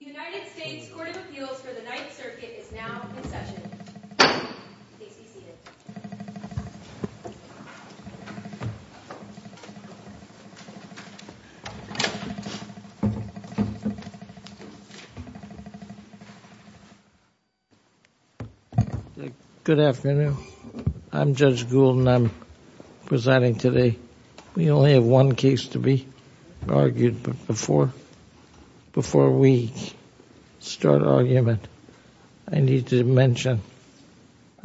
United States Court of Appeals for the Ninth Circuit is now in session. Please be seated. Good afternoon. I'm Judge Gould and I'm presiding today. We only have one case to be argued, but before we start argument, I need to mention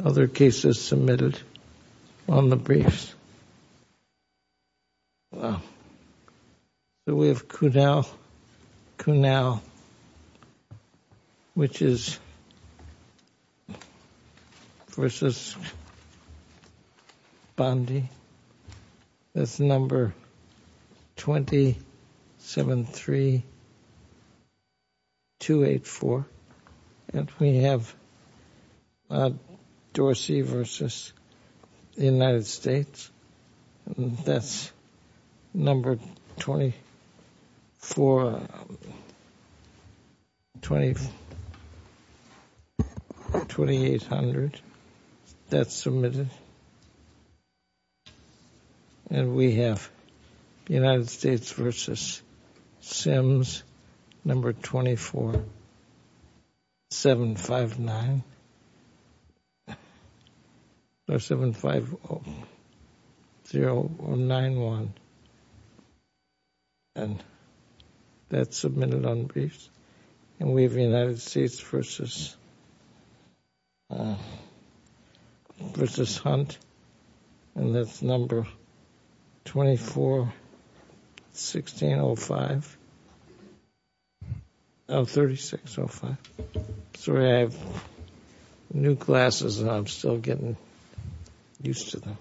other cases submitted on the briefs. We have Cunauw v. Bondi. That's number 22. 273284. And we have Dorsey v. United States. That's number 242800. That's submitted. And we have United States v. Sims, number 24759091. And that's submitted on the briefs. And we have United States v. Hunt. And that's number 241605. Oh, 3605. Sorry, I have new glasses and I'm still getting used to them.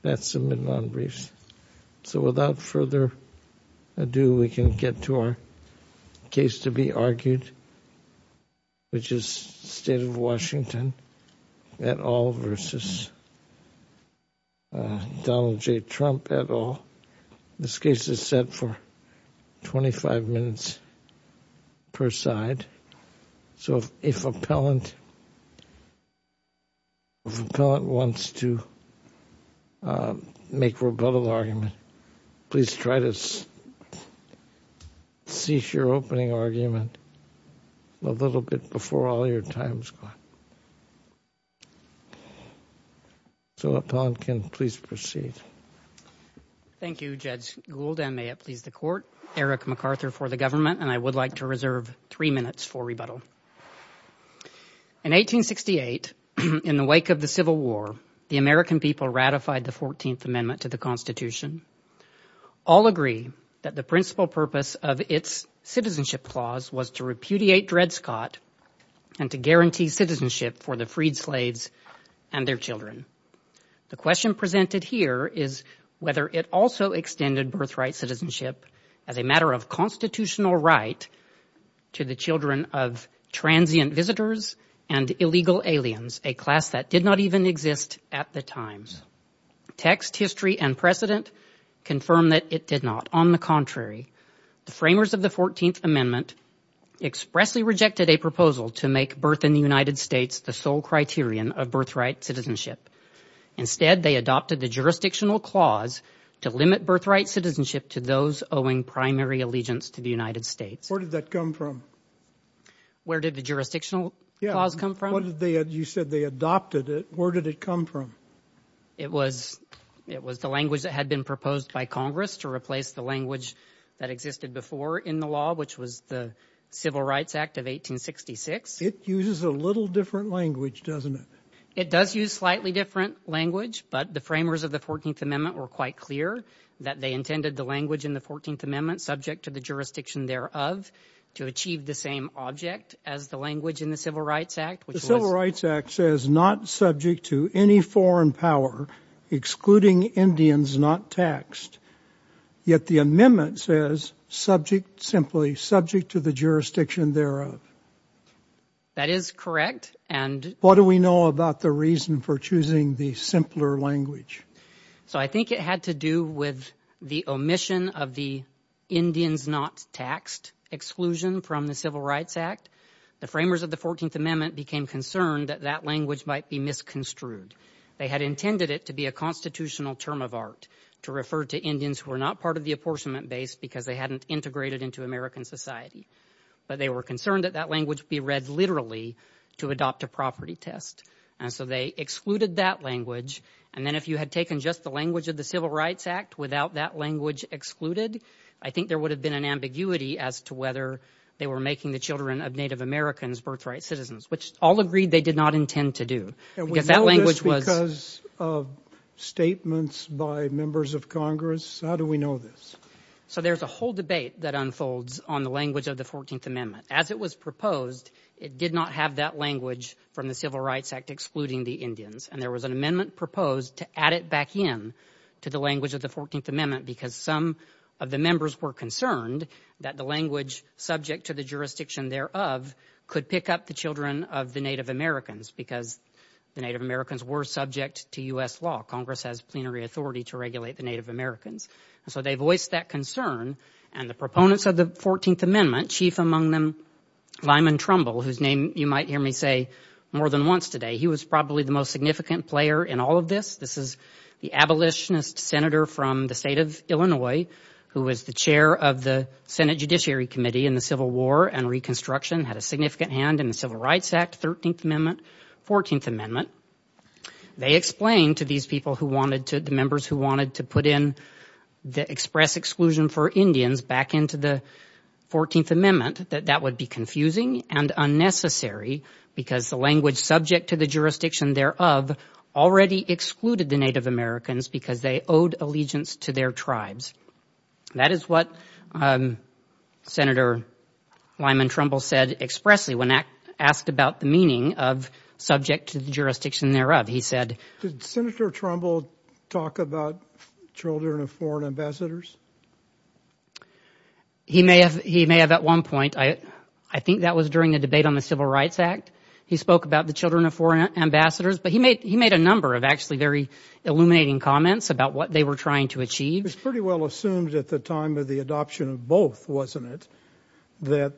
That's submitted on briefs. So without further ado, we can get to our case to be argued, which is State of Washington et al. v. Donald J. Trump et al. This case is set for 25 minutes per side. So if an appellant wants to make a rebuttal argument, please try to cease your opening argument a little bit before all your time's gone. So appellant, can you please proceed? Thank you, Judge Gould, and may it please the Court. Eric MacArthur for the government and I would like to reserve three minutes for rebuttal. In 1868, in the wake of the Constitution, all agree that the principal purpose of its citizenship clause was to repudiate Dred Scott and to guarantee citizenship for the freed slaves and their children. The question presented here is whether it also extended birthright citizenship as a matter of constitutional right to the children of transient visitors and illegal aliens, a class that did not even exist at the time. Text, history, and precedent confirm that it did not. On the contrary, the framers of the 14th Amendment expressly rejected a proposal to make birth in the United States the sole criterion of birthright citizenship. Instead, they adopted the jurisdictional clause to limit birthright citizenship to those owing primary allegiance to the United States. Where did that come from? Where did the jurisdictional clause come from? You said they adopted it. Where did it come from? It was the language that had been proposed by Congress to replace the language that existed before in the law, which was the Civil Rights Act of 1866. It uses a little different language, doesn't it? It does use slightly different language, but the framers of the 14th Amendment were quite clear that they intended the language in the 14th Amendment, subject to the jurisdiction thereof, to achieve the same object as the language in the Civil Rights Act, which was... The Civil Rights Act says, not subject to any foreign power, excluding Indians not taxed. Yet the amendment says, subject simply, subject to the jurisdiction thereof. That is correct, and... What do we know about the reason for choosing the simpler language? I think it had to do with the omission of the Indians not taxed exclusion from the Civil Rights Act. The framers of the 14th Amendment became concerned that that language might be misconstrued. They had intended it to be a constitutional term of art, to refer to Indians who were not part of the apportionment base because they hadn't integrated into American society. They were concerned that that language be read literally to adopt a property test. They excluded that language, and then if you had taken just the language of the Civil Rights Act without that language excluded, I think there would have been an ambiguity as to whether they were making the children of Native Americans birthright citizens, which all agreed they did not intend to do, because that language was... We know this because of statements by members of Congress. How do we know this? There's a whole debate that unfolds on the language of the 14th Amendment. As it was proposed, it did not have that language from the Civil Rights Act excluding the Indians, and there was an amendment proposed to add it back in to the language of the 14th Amendment because some of the members were concerned that the language subject to the jurisdiction thereof could pick up the children of the Native Americans because the Native Americans were subject to U.S. law. Congress has plenary authority to regulate the Native Americans, and so they voiced that concern, and the proponents of the 14th Amendment, chief among them Lyman Trumbull, whose name you might hear me say more than once today, he was probably the most significant player in all of this. This is the abolitionist senator from the state of Illinois who was the chair of the Senate Judiciary Committee in the Civil War and Reconstruction, had a significant hand in the Civil Rights Act, 13th Amendment, 14th Amendment. They explained to these people who wanted to, the members who wanted to put in the express exclusion for Indians back into the 14th Amendment that that would be confusing and unnecessary because the language subject to the jurisdiction thereof already excluded the Native Americans because they owed allegiance to their tribes. That is what Senator Lyman Trumbull said expressly when asked about the meaning of subject to the jurisdiction thereof. He said... Did Senator Trumbull talk about children of foreign ambassadors? He may have. He may have at one point. I think that was during the debate on the Civil Rights Act. He spoke about the children of foreign ambassadors, but he made a number of actually very illuminating comments about what they were trying to achieve. It was pretty well assumed at the time of the adoption of both, wasn't it, that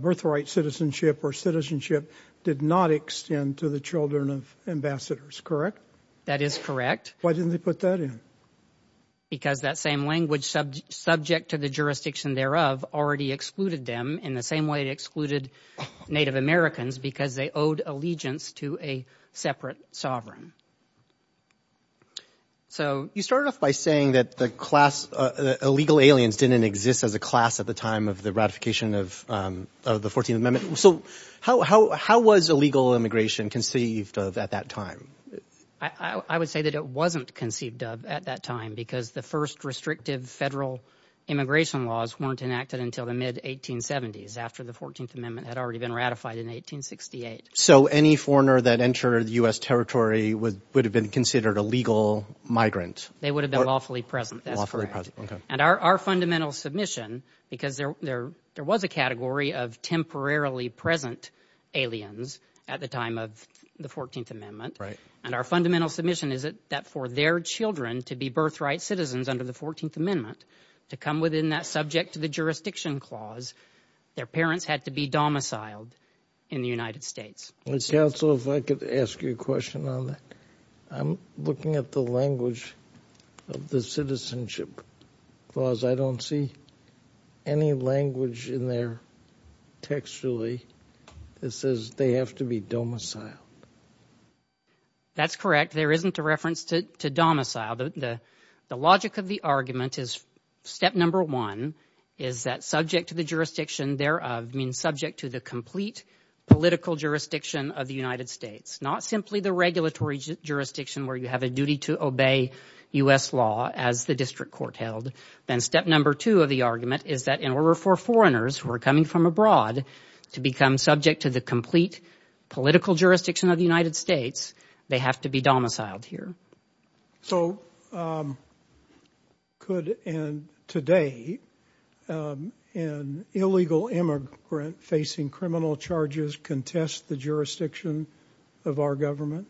birthright citizenship or citizenship did not extend to the children of ambassadors, correct? That is correct. Why didn't they put that in? Because that same language subject to the jurisdiction thereof already excluded them in the same way it excluded Native Americans because they owed allegiance to a separate sovereign. So... You started off by saying that the class, the illegal aliens didn't exist as a class at the time of the ratification of the 14th Amendment. So how was illegal immigration conceived of at that time? I would say that it wasn't conceived of at that time because the first restrictive federal immigration laws weren't enacted until the mid-1870s after the 14th Amendment had already been ratified in 1868. So any foreigner that entered the U.S. territory would have been considered a legal migrant? They would have been lawfully present. That's correct. Lawfully present, okay. And our fundamental submission, because there was a category of temporarily present aliens at the time of the 14th Amendment, and our fundamental submission is that for their children to be birthright citizens under the 14th Amendment, to come within that subject to the jurisdiction clause, their parents had to be domiciled in the United States. Mr. Counsel, if I could ask you a question on that. I'm looking at the language of the citizenship clause. I don't see any language in there textually that says they have to be domiciled. That's correct. There isn't a reference to domicile. The logic of the argument is step number one is that subject to the jurisdiction thereof, I mean, subject to the complete political jurisdiction of the United States, not simply the regulatory jurisdiction where you have a duty to obey U.S. law as the district court held, then step number two of the argument is that in order for foreigners who are coming from abroad to become subject to the complete political jurisdiction of the United States, they have to be domiciled here. So could, and today, an illegal immigrant facing criminal charges contest the jurisdiction of our government?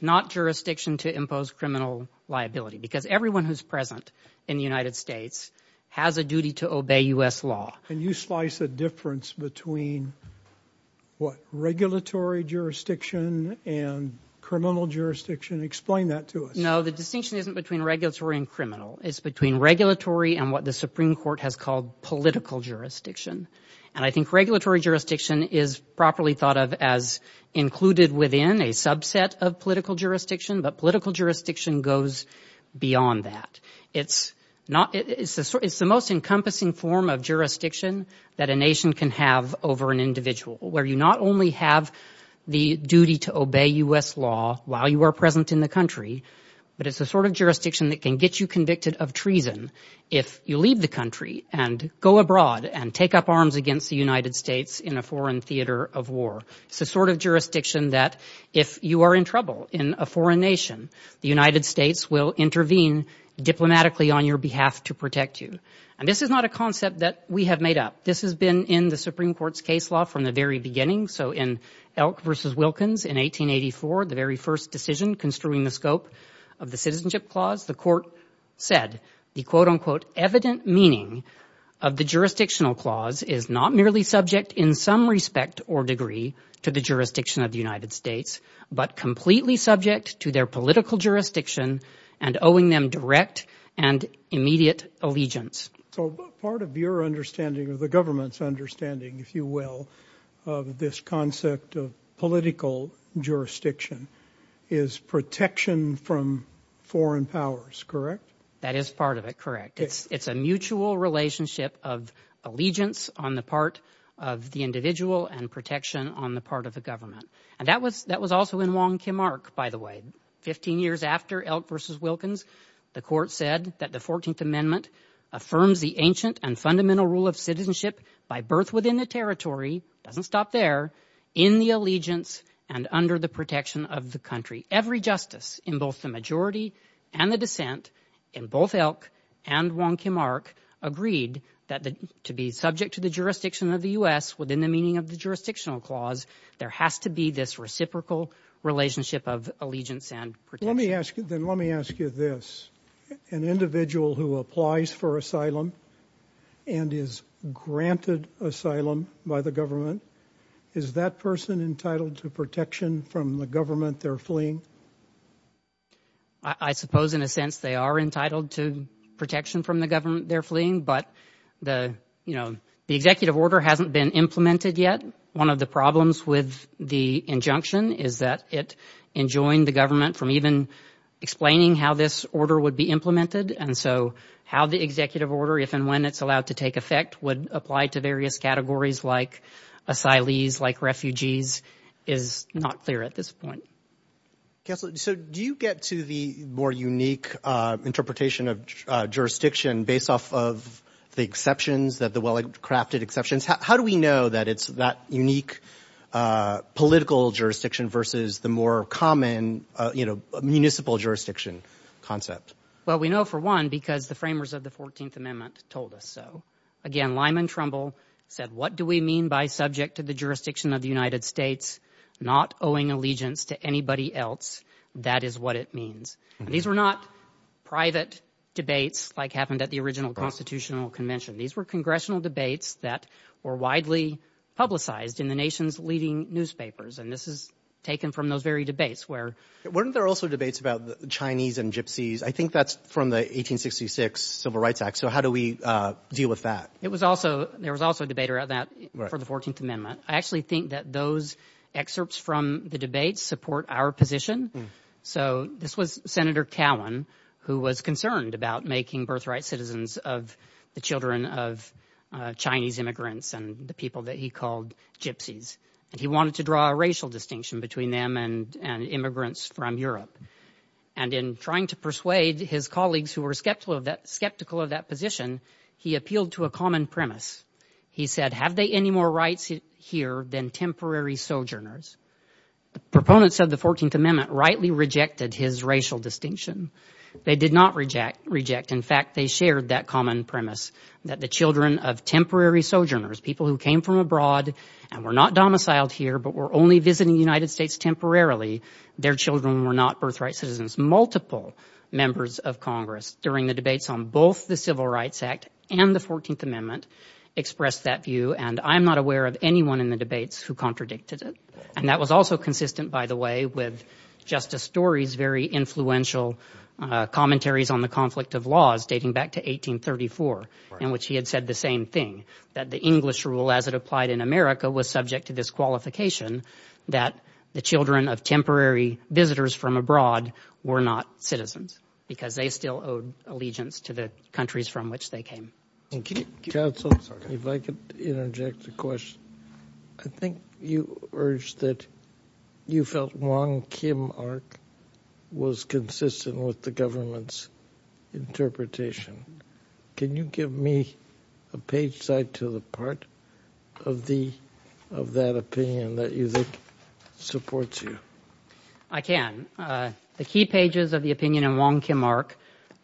Not jurisdiction to impose criminal liability because everyone who's present in the United States has a duty to obey U.S. law. Can you slice a difference between what regulatory jurisdiction and criminal jurisdiction? Explain that to us. No, the distinction isn't between regulatory and criminal. It's between regulatory and what the Supreme Court has called political jurisdiction. And I think regulatory jurisdiction is properly thought of as included within a subset of political jurisdiction, but political jurisdiction goes beyond that. It's the most encompassing form of jurisdiction that a nation can have over an individual where you not only have the duty to obey U.S. law while you are present in the country, but it's the sort of jurisdiction that can get you convicted of treason if you leave the country and go abroad and take up arms against the United States in a foreign theater of war. It's the sort of jurisdiction that if you are in trouble in a foreign nation, the United States will intervene diplomatically on your behalf to protect you. And this is not a concept that we have made up. This has been in the Supreme Court's case law from the very beginning. So in Elk v. Wilkins in 1884, the very first decision construing the scope of the citizenship clause, the court said the quote unquote evident meaning of the jurisdictional clause is not merely subject in some respect or degree to the jurisdiction of the United States, but completely subject to their political jurisdiction and owing them direct and immediate allegiance. So part of your understanding of the government's understanding, if you will, of this concept of political jurisdiction is protection from foreign powers, correct? That is part of it. Correct. It's a mutual relationship of allegiance on the part of the individual and protection on the part of the government. And that was that was also in Wong Kim Ark, by the way, 15 years after Elk v. Wilkins, the court said that the 14th Amendment affirms the ancient and fundamental rule of citizenship by birth within the territory, doesn't stop there, in the allegiance and under the protection of the country. Every justice in both the majority and the dissent in both Elk and Wong Kim Ark agreed that to be subject to the jurisdiction of the U.S. within the meaning of the jurisdictional clause, there has to be this reciprocal relationship of allegiance and protection. Then let me ask you this, an individual who applies for asylum and is granted asylum by the government, is that person entitled to protection from the government they're fleeing? I suppose in a sense they are entitled to protection from the government they're fleeing, but the executive order hasn't been implemented yet. One of the problems with the injunction is that it enjoined the government from even explaining how this order would be implemented. And so how the executive order, if and when it's allowed to take effect, would apply to various categories like asylees, like refugees, is not clear at this point. Counselor, so do you get to the more unique interpretation of jurisdiction based off of the exceptions that the well-crafted exceptions? How do we know that it's that unique political jurisdiction versus the more common municipal jurisdiction concept? Well, we know for one, because the framers of the 14th Amendment told us so. Again, Lyman Trumbull said, what do we mean by subject to the jurisdiction of the United States, not owing allegiance to anybody else? That is what it means. These were not private debates like happened at the original Constitutional Convention. These were congressional debates that were widely publicized in the nation's leading newspapers. And this is taken from those very debates where... Weren't there also debates about the Chinese and gypsies? I think that's from the 1866 Civil Rights Act. So how do we deal with that? It was also, there was also a debate around that for the 14th Amendment. I actually think that those excerpts from the debates support our position. So this was Senator Cowan who was concerned about making birthright citizens of the children of Chinese immigrants and the people that he called gypsies. And he wanted to draw a racial distinction between them and immigrants from Europe. And in trying to persuade his colleagues who were skeptical of that position, he appealed to a common premise. He said, have they any more rights here than temporary sojourners? The proponents of the 14th Amendment rightly rejected his racial distinction. They did not reject. In fact, they shared that common premise that the children of temporary sojourners, people who came from abroad and were not domiciled here, but were only visiting the United States temporarily, their children were not birthright citizens. Multiple members of Congress during the debates on both the Civil Rights Act and the 14th Amendment expressed that view. And I'm not aware of anyone in the debates who contradicted it. And that was also consistent, by the way, with Justice Story's very influential commentaries on the conflict of laws dating back to 1834, in which he had said the same thing, that the English rule as it applied in America was subject to this qualification that the children of temporary visitors from abroad were not citizens because they still owed allegiance to the countries from which they came. Counsel, if I could interject a question. I think you urged that you felt Wong Kim Ark was consistent with the government's interpretation. Can you give me a page side to the part of that opinion that you think supports you? I can. The key pages of the opinion in Wong Kim Ark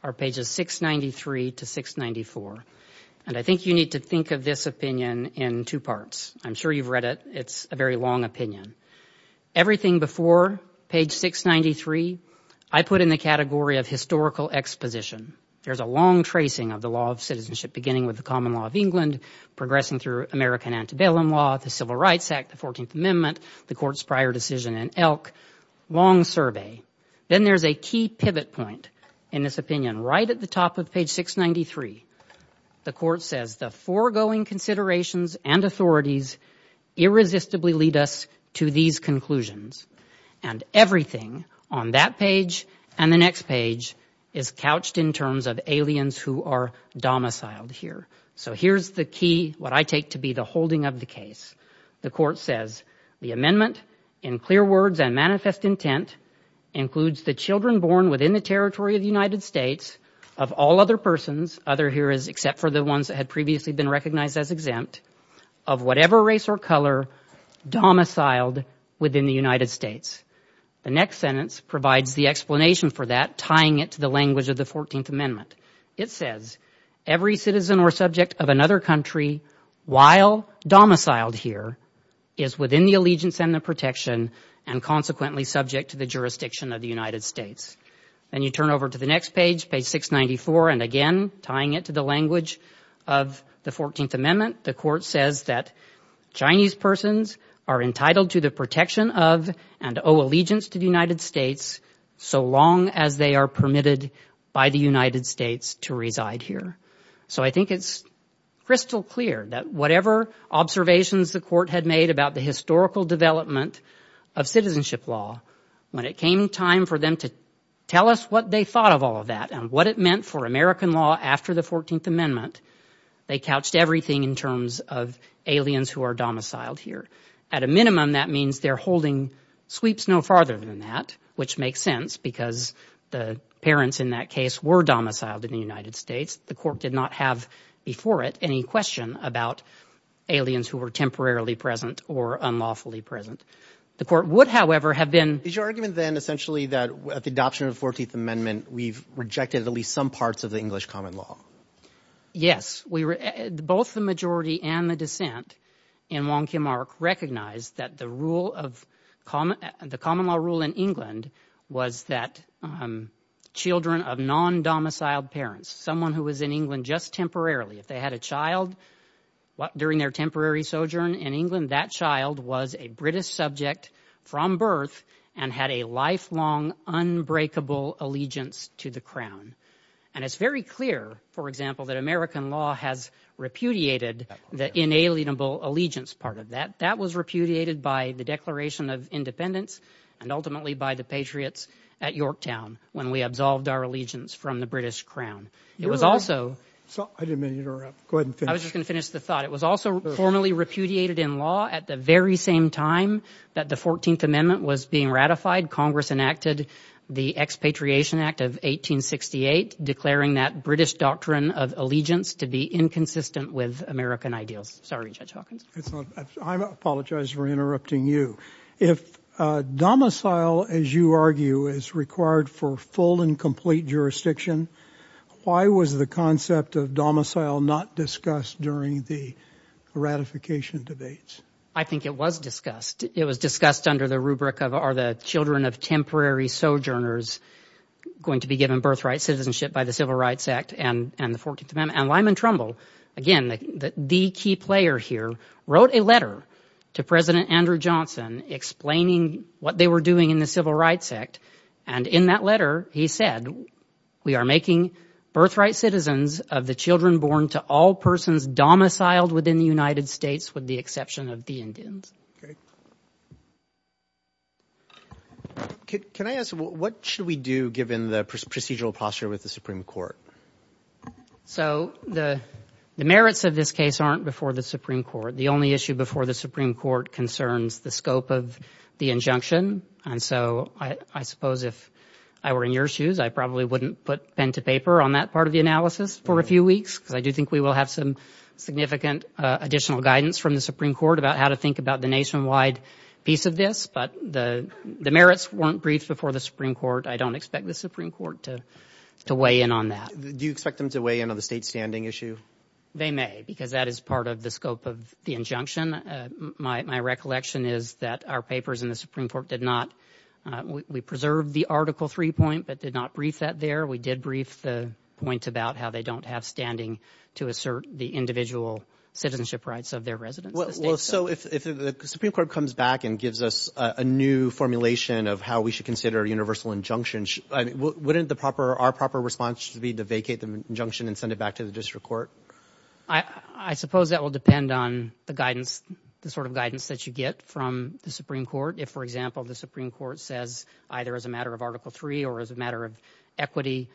are pages 693 to 694. And I think you need to think of this opinion in two parts. I'm sure you've read it. It's a very long opinion. Everything before page 693, I put in the category of historical exposition. There's a long tracing of the law of citizenship, beginning with the common law of England, progressing through American antebellum law, the Civil Rights Act, the 14th Amendment, the Court's prior decision in Elk, long survey. Then there's a key pivot point in this opinion right at the top of page 693. The Court says the foregoing considerations and authorities irresistibly lead us to these conclusions. And everything on that page and the next page is couched in terms of aliens who are domiciled here. So here's the key, what I take to be the holding of the case. The Court says the amendment in clear words and manifest intent includes the children born within the territory of the United States of all other persons, other here is except for the ones that had previously been recognized as exempt, of whatever race or color domiciled within the United States. The next sentence provides the explanation for that, tying it to the language of the 14th Amendment. It says every citizen or subject of another country while domiciled here is within the allegiance and the protection and consequently subject to the jurisdiction of the United States. Then you turn over to the next page, page 694, and again, tying it to the language of the 14th Amendment, the Court says that Chinese persons are entitled to the protection of and owe allegiance to the United States so long as they are permitted by the United States to reside here. So I think it's crystal clear that whatever observations the Court had made about the historical development of citizenship law, when it came time for them to tell us what they thought of all of that and what it meant for American law after the 14th Amendment, they couched everything in terms of aliens who are domiciled here. At a minimum, that means they're holding sweeps no farther than that, which makes sense because the parents in that case were domiciled in the United States. The Court did not have before it any question about aliens who were temporarily present or unlawfully present. The Court would, however, have been... Is your argument then essentially that at the adoption of the 14th Amendment, we've rejected at least some parts of the English common law? Yes. Both the majority and the dissent in Wong Kim Ark recognized that the rule of... The common law rule in England was that children of non-domiciled parents, someone who was in England just temporarily, if they had a child during their temporary sojourn in England, that child was a British subject from birth and had a lifelong, unbreakable allegiance to the crown. And it's very clear, for example, that American law has repudiated the inalienable allegiance part of that. That was repudiated by the Declaration of Independence and ultimately by the patriots at Yorktown when we absolved our allegiance from the British crown. It was also... I didn't mean to interrupt. Go ahead and finish. I was just going to finish the thought. It was also formally repudiated in law at the very same time that the 14th Amendment was being ratified. Congress enacted the Expatriation Act of 1868, declaring that British doctrine of allegiance to be inconsistent with American ideals. Sorry, Judge Hawkins. I apologize for interrupting you. If domicile, as you argue, is required for full and complete jurisdiction, why was the concept of domicile not discussed during the ratification debates? I think it was discussed. It was discussed under the rubric of are the children of temporary sojourners going to be given birthright citizenship by the Civil Rights Act and the 14th Amendment. And Lyman Trumbull, again, the key player here, wrote a letter to President Andrew Johnson explaining what they were doing in the Civil Rights Act. And in that letter, he said, we are making birthright citizens of the children born to all persons domiciled within the United States with the exception of the Indians. Great. Can I ask, what should we do given the procedural posture with the Supreme Court? So the merits of this case aren't before the Supreme Court. The only issue before the Supreme Court concerns the scope of the injunction. And so I suppose if I were in your shoes, I probably wouldn't put pen to paper on that part of the analysis for a few weeks, because I do think we will have some significant additional guidance from the Supreme Court about how to think about the nationwide piece of this. But the merits weren't briefed before the Supreme Court. I don't expect the Supreme Court to weigh in on that. Do you expect them to weigh in on the state standing issue? They may, because that is part of the scope of the injunction. My recollection is that our papers in the Supreme Court did not. We preserved the Article III point, but did not brief that there. We did brief the point about how they don't have standing to assert the individual citizenship rights of their residents. Well, so if the Supreme Court comes back and gives us a new formulation of how we should consider universal injunctions, wouldn't the proper, our proper response be to vacate the injunction and send it back to the district court? I suppose that will depend on the guidance, the sort of guidance that you get from the Supreme Court. If, for example, the Supreme Court says either as a matter of Article III or as a matter of equity,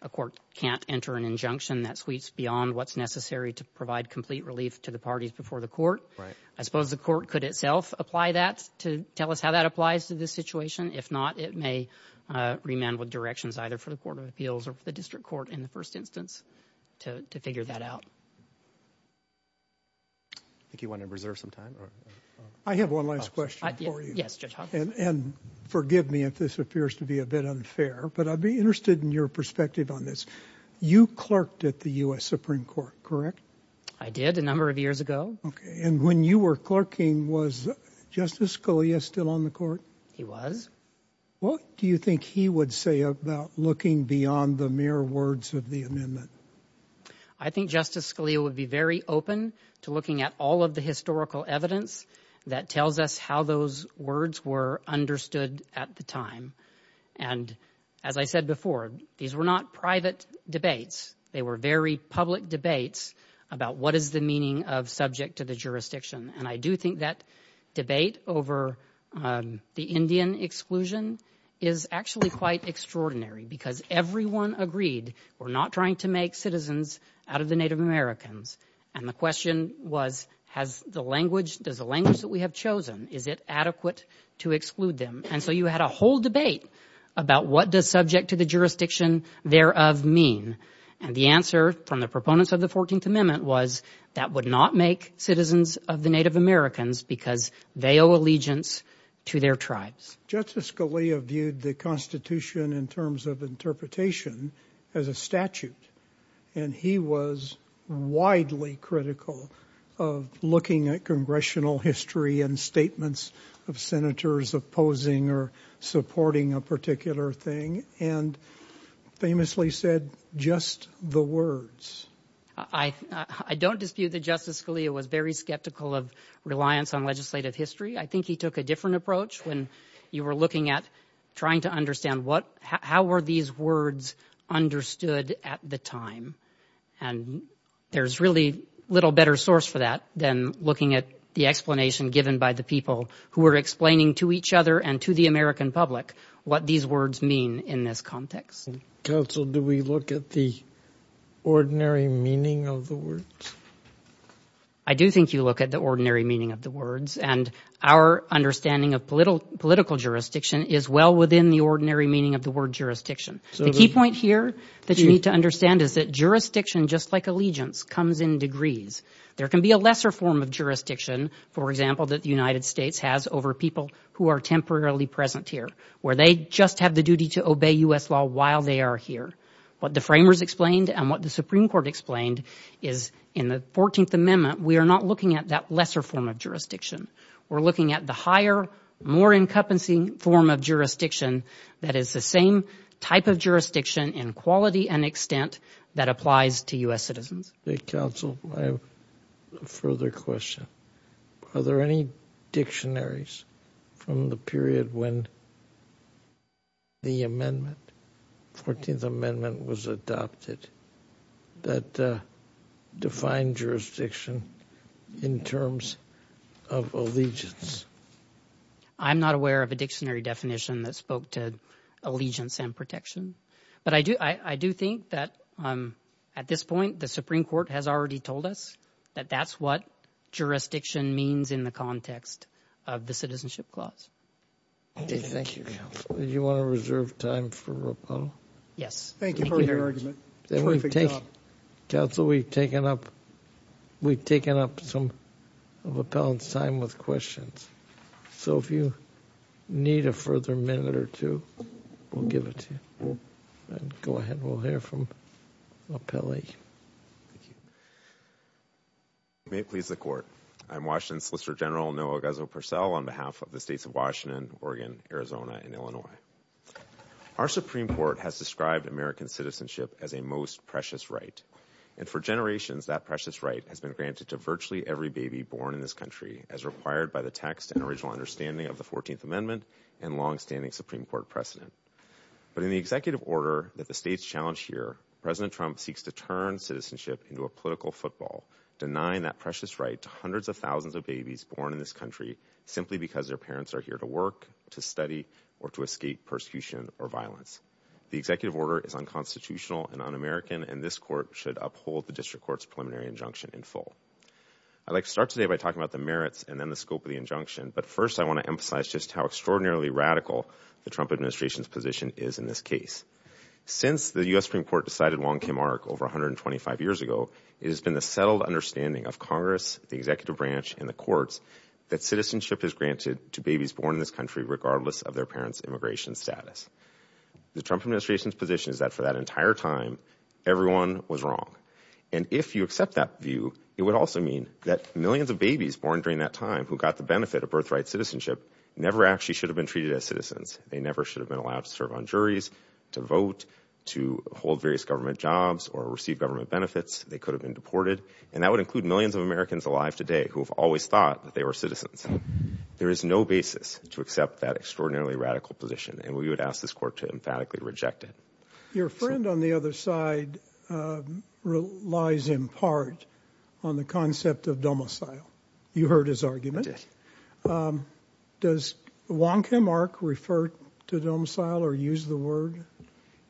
a court can't enter an injunction that sweeps beyond what's necessary to provide complete relief to the parties before the court. I suppose the court could itself apply that to tell us how that applies to this situation. If not, it may remand with directions either for the Court of Appeals or for the district court in the first instance to figure that out. I think you want to reserve some time. I have one last question for you. Yes, Judge Hawkins. And forgive me if this appears to be a bit unfair, but I'd be interested in your perspective on this. You clerked at the U.S. Supreme Court, correct? I did a number of years ago. OK. And when you were clerking, was Justice Scalia still on the court? He was. What do you think he would say about looking beyond the mere words of the amendment? I think Justice Scalia would be very open to looking at all of the historical evidence that tells us how those words were understood at the time. And as I said before, these were not private debates. They were very public debates about what is the meaning of subject to the jurisdiction. And I do think that debate over the Indian exclusion is actually quite extraordinary because everyone agreed we're not trying to make citizens out of the Native Americans. And the question was, has the language, does the language that we have chosen, is it adequate to exclude them? And so you had a whole debate about what does subject to the jurisdiction thereof mean? And the answer from the proponents of the 14th Amendment was that would not make citizens of the Native Americans because they owe allegiance to their tribes. Justice Scalia viewed the Constitution in terms of interpretation as a statute. And he was widely critical of looking at congressional history and statements of senators opposing or supporting a particular thing. And famously said, just the words. I don't dispute that Justice Scalia was very skeptical of reliance on legislative history. I think he took a different approach when you were looking at trying to understand what, how were these words understood at the time? And there's really little better source for that than looking at the explanation given by the people who were explaining to each other and to the American public what these words mean in this context. Counsel, do we look at the ordinary meaning of the words? I do think you look at the ordinary meaning of the words and our understanding of political jurisdiction is well within the ordinary meaning of the word jurisdiction. The key point here that you need to understand is that jurisdiction, just like allegiance, comes in degrees. There can be a lesser form of jurisdiction, for example, that the United States has over people who are temporarily present here, where they just have the duty to obey U.S. law while they are here. What the framers explained and what the Supreme Court explained is in the 14th Amendment, we are not looking at that lesser form of jurisdiction. We're looking at the higher, more incumbency form of jurisdiction that is the same type of jurisdiction in quality and extent that applies to U.S. citizens. Counsel, I have a further question. Are there any dictionaries from the period when the amendment, 14th Amendment, was adopted that defined jurisdiction in terms of allegiance? I'm not aware of a dictionary definition that spoke to allegiance and protection, but I do think that at this point, the Supreme Court has already told us that that's what jurisdiction means in the context of the Citizenship Clause. Thank you, Counsel. Do you want to reserve time for Rappel? Yes. Thank you for your argument. Counsel, we've taken up some of Rappel's time with questions, so if you need a further minute or two, we'll give it to you. Go ahead. We'll hear from Rappel. Thank you. May it please the Court. I'm Washington Solicitor General Noah Guzzo-Purcell on behalf of the states of Washington, Oregon, Arizona, and Illinois. Our Supreme Court has described American citizenship as a most precious right. And for generations, that precious right has been granted to virtually every baby born in this country as required by the text and original understanding of the 14th Amendment and longstanding Supreme Court precedent. But in the executive order that the states challenge here, President Trump seeks to turn citizenship into a political football, denying that precious right to hundreds of thousands of babies born in this country simply because their parents are here to work, to study, or to escape persecution or violence. The executive order is unconstitutional and un-American, and this Court should uphold the District Court's preliminary injunction in full. I'd like to start today by talking about the merits and then the scope of the injunction. But first, I want to emphasize just how extraordinarily radical the Trump administration's position is in this case. Since the U.S. Supreme Court decided Wong Kim Ark over 125 years ago, it has been the settled understanding of Congress, the executive branch, and the courts that citizenship is granted to babies born in this country regardless of their parents' immigration status. The Trump administration's position is that for that entire time, everyone was wrong. And if you accept that view, it would also mean that millions of babies born during that time who got the benefit of birthright citizenship never actually should have been treated as They never should have been allowed to serve on juries, to vote, to hold various government jobs, or receive government benefits. They could have been deported. And that would include millions of Americans alive today who have always thought that they were citizens. There is no basis to accept that extraordinarily radical position, and we would ask this Court to emphatically reject it. Your friend on the other side relies in part on the concept of domicile. You heard his argument. Does Wong Kim Ark refer to domicile or use the word?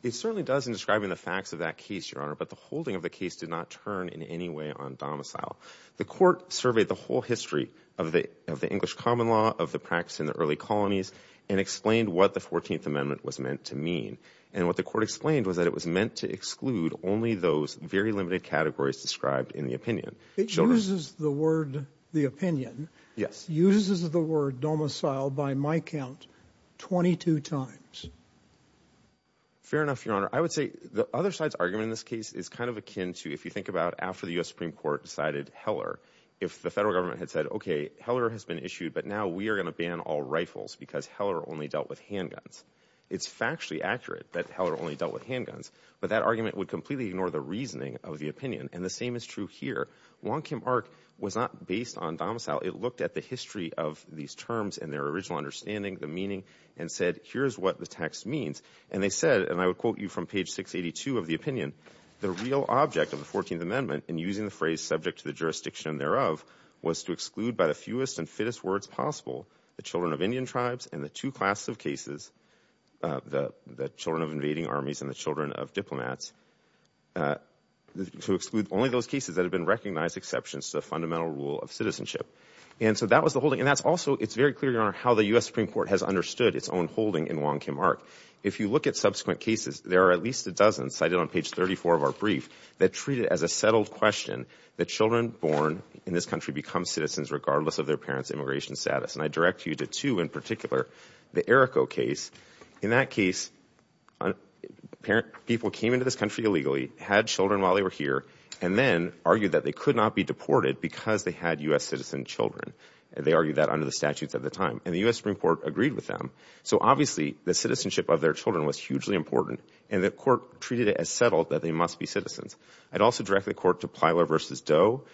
It certainly does in describing the facts of that case, Your Honor, but the holding of the case did not turn in any way on domicile. The Court surveyed the whole history of the English common law, of the practice in the early colonies, and explained what the 14th Amendment was meant to mean. And what the Court explained was that it was meant to exclude only those very limited categories described in the opinion. It uses the word, the opinion. Yes. Uses the word domicile, by my count, 22 times. Fair enough, Your Honor. I would say the other side's argument in this case is kind of akin to if you think about after the U.S. Supreme Court decided Heller, if the federal government had said, okay, Heller has been issued, but now we are going to ban all rifles because Heller only dealt with handguns. It's factually accurate that Heller only dealt with handguns, but that argument would completely ignore the reasoning of the opinion. And the same is true here. Wong Kim Ark was not based on domicile. It looked at the history of these terms and their original understanding, the meaning, and said, here's what the text means. And they said, and I would quote you from page 682 of the opinion, the real object of the 14th Amendment, and using the phrase subject to the jurisdiction thereof, was to exclude by the fewest and fittest words possible the children of Indian tribes and the two classes of cases, the children of invading armies and the children of diplomats, to exclude only those cases that have been recognized exceptions to the fundamental rule of citizenship. And so that was the holding. And that's also, it's very clear, Your Honor, how the U.S. Supreme Court has understood its own holding in Wong Kim Ark. If you look at subsequent cases, there are at least a dozen cited on page 34 of our brief that treat it as a settled question that children born in this country become citizens regardless of their parents' immigration status. And I direct you to two in particular. The Errico case, in that case, people came into this country illegally, had children while they were here, and then argued that they could not be deported because they had U.S. citizen children. They argued that under the statutes at the time. And the U.S. Supreme Court agreed with them. So obviously, the citizenship of their children was hugely important, and the court treated it as settled that they must be citizens. I'd also direct the court to Plyler v. Doe.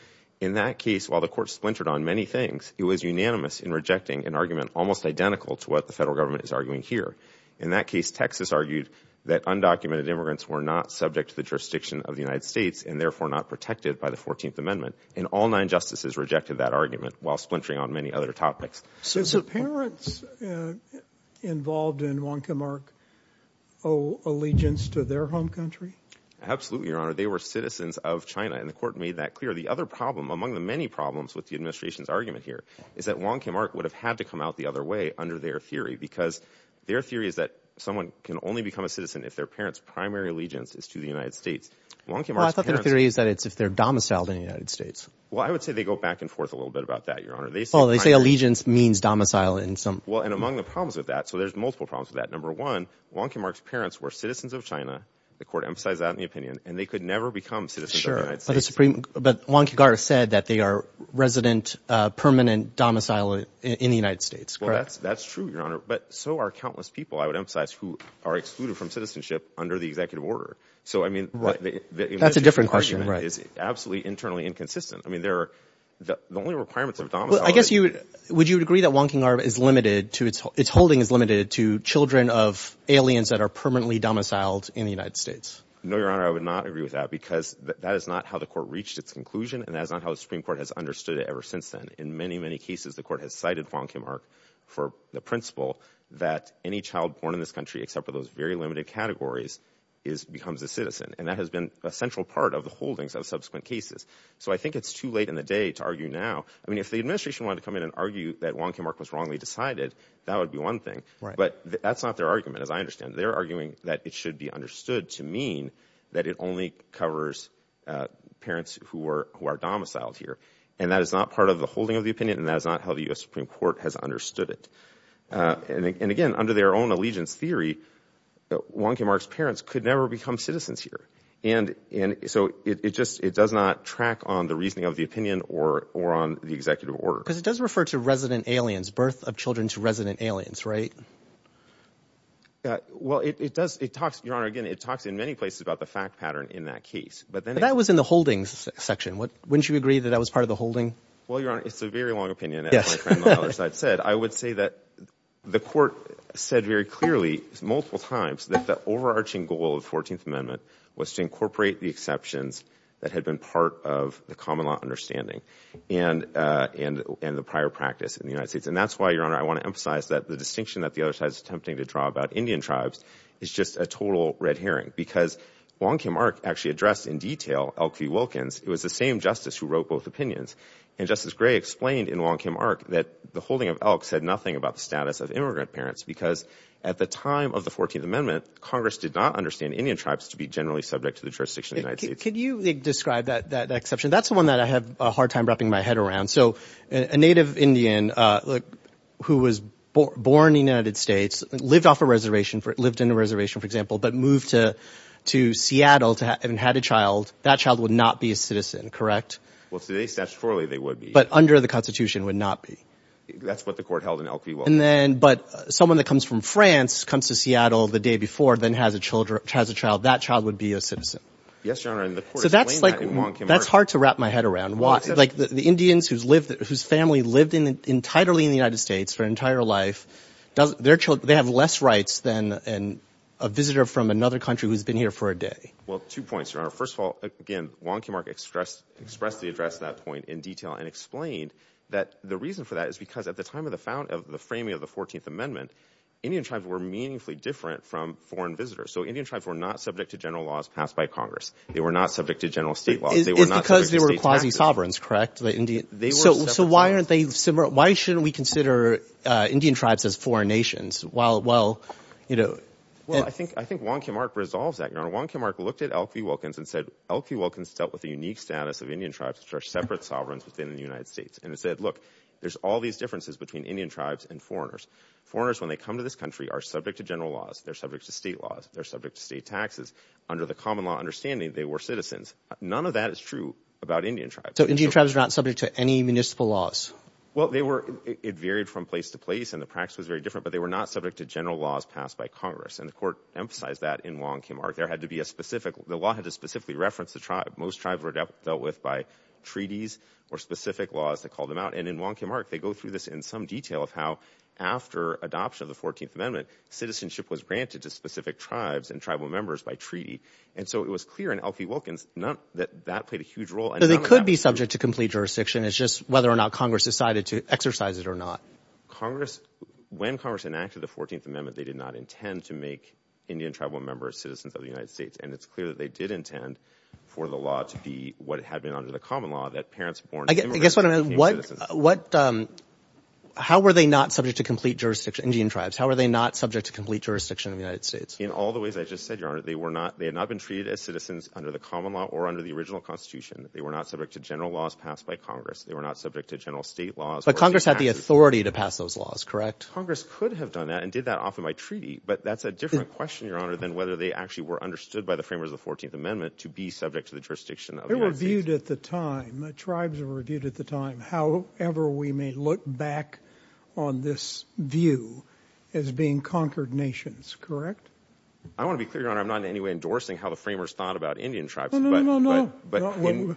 In that case, while the court splintered on many things, it was unanimous in rejecting an argument almost identical to what the federal government is arguing here. In that case, Texas argued that undocumented immigrants were not subject to the jurisdiction of the United States and therefore not protected by the 14th Amendment. And all nine justices rejected that argument while splintering on many other topics. So the parents involved in Wong Kim Ark owe allegiance to their home country? Absolutely, Your Honor. They were citizens of China. And the court made that clear. The other problem, among the many problems with the administration's argument here, is that Wong Kim Ark would have had to come out the other way under their theory. Because their theory is that someone can only become a citizen if their parents' primary allegiance is to the United States. Well, I thought their theory is that it's if they're domiciled in the United States. Well, I would say they go back and forth a little bit about that, Your Honor. Oh, they say allegiance means domicile in some... Well, and among the problems with that, so there's multiple problems with that. Number one, Wong Kim Ark's parents were citizens of China. The court emphasized that in the opinion. And they could never become citizens of the United States. But Wong Kim Ark said that they are resident, permanent domicile in the United States, correct? That's true, Your Honor. But so are countless people, I would emphasize, who are excluded from citizenship under the executive order. So, I mean, the administration's argument is absolutely internally inconsistent. I mean, the only requirements of domicile... Well, I guess you would... Would you agree that Wong Kim Ark is limited to its... Its holding is limited to children of aliens that are permanently domiciled in the United States? No, Your Honor, I would not agree with that. Because that is not how the court reached its conclusion. And that is not how the Supreme Court has understood it ever since then. In many, many cases, the court has cited Wong Kim Ark for the principle that any child born in this country, except for those very limited categories, becomes a citizen. And that has been a central part of the holdings of subsequent cases. So I think it's too late in the day to argue now. I mean, if the administration wanted to come in and argue that Wong Kim Ark was wrongly decided, that would be one thing. But that's not their argument, as I understand. They're arguing that it should be understood to mean that it only covers parents who are domiciled here. And that is not part of the holding of the opinion. And that is not how the U.S. Supreme Court has understood it. And again, under their own allegiance theory, Wong Kim Ark's parents could never become citizens here. And so it just, it does not track on the reasoning of the opinion or on the executive order. Because it does refer to resident aliens, birth of children to resident aliens, right? Well, it does, it talks, Your Honor, again, it talks in many places about the fact pattern in that case. But that was in the holdings section. Wouldn't you agree that that was part of the holding? Well, Your Honor, it's a very long opinion, as my friend on the other side said. I would say that the Court said very clearly, multiple times, that the overarching goal of the 14th Amendment was to incorporate the exceptions that had been part of the common law understanding and the prior practice in the United States. And that's why, Your Honor, I want to emphasize that the distinction that the other side is attempting to draw about Indian tribes is just a total red herring. Because Wong Kim Ark actually addressed in detail Elkie Wilkins. It was the same Justice who wrote both opinions. And Justice Gray explained in Wong Kim Ark that the holding of Elkie said nothing about the status of immigrant parents. Because at the time of the 14th Amendment, Congress did not understand Indian tribes to be generally subject to the jurisdiction of the United States. Could you describe that exception? That's the one that I have a hard time wrapping my head around. So a native Indian who was born in the United States, lived off a reservation, lived in a reservation, for example, but moved to Seattle and had a child, that child would not be a citizen, correct? Well, today, statutorily, they would be. But under the Constitution would not be. That's what the court held in Elkie Wilkins. And then, but someone that comes from France, comes to Seattle the day before, then has a child, that child would be a citizen. Yes, Your Honor, and the court explained that in Wong Kim Ark. That's hard to wrap my head around. The Indians whose family lived entirely in the United States their entire life, they have less rights than a visitor from another country who's been here for a day. Well, two points, Your Honor. First of all, again, Wong Kim Ark expressed the address to that point in detail and explained that the reason for that is because at the time of the framing of the 14th Amendment, Indian tribes were meaningfully different from foreign visitors. So Indian tribes were not subject to general laws passed by Congress. They were not subject to general state laws. It's because they were quasi sovereigns, correct? So why shouldn't we consider Indian tribes as foreign nations? Well, I think Wong Kim Ark resolves that, Your Honor. Wong Kim Ark looked at Elk V. Wilkins and said, Elk V. Wilkins dealt with the unique status of Indian tribes, which are separate sovereigns within the United States. And it said, look, there's all these differences between Indian tribes and foreigners. Foreigners, when they come to this country, are subject to general laws. They're subject to state laws. They're subject to state taxes. Under the common law understanding, they were citizens. None of that is true about Indian tribes. So Indian tribes are not subject to any municipal laws? Well, it varied from place to place and the practice was very different, but they were not subject to general laws passed by Congress. And the court emphasized that in Wong Kim Ark. The law had to specifically reference the tribe. Most tribes were dealt with by treaties or specific laws that called them out. And in Wong Kim Ark, they go through this in some detail of how after adoption of the 14th Amendment, citizenship was granted to specific tribes and tribal members by treaty. And so it was clear in Elk V. Wilkins that that played a huge role. So they could be subject to complete jurisdiction. It's just whether or not Congress decided to exercise it or not. When Congress enacted the 14th Amendment, they did not intend to make Indian tribal members citizens of the United States. And it's clear that they did intend for the law to be what had been under the common law that parents born. How were they not subject to complete jurisdiction? Indian tribes. How are they not subject to complete jurisdiction of the United States? In all the ways I just said, Your Honor, they had not been treated as citizens under the common law or under the original Constitution. They were not subject to general laws passed by Congress. They were not subject to general state laws. But Congress had the authority to pass those laws, correct? Congress could have done that and did that off of my treaty. But that's a different question, Your Honor, than whether they actually were understood by the framers of the 14th Amendment to be subject to the jurisdiction of the United States. They were viewed at the time. The tribes were viewed at the time. However, we may look back on this view as being conquered nations, correct? I want to be clear, Your Honor, I'm not in any way endorsing how the framers thought about Indian tribes. No, no, no, no.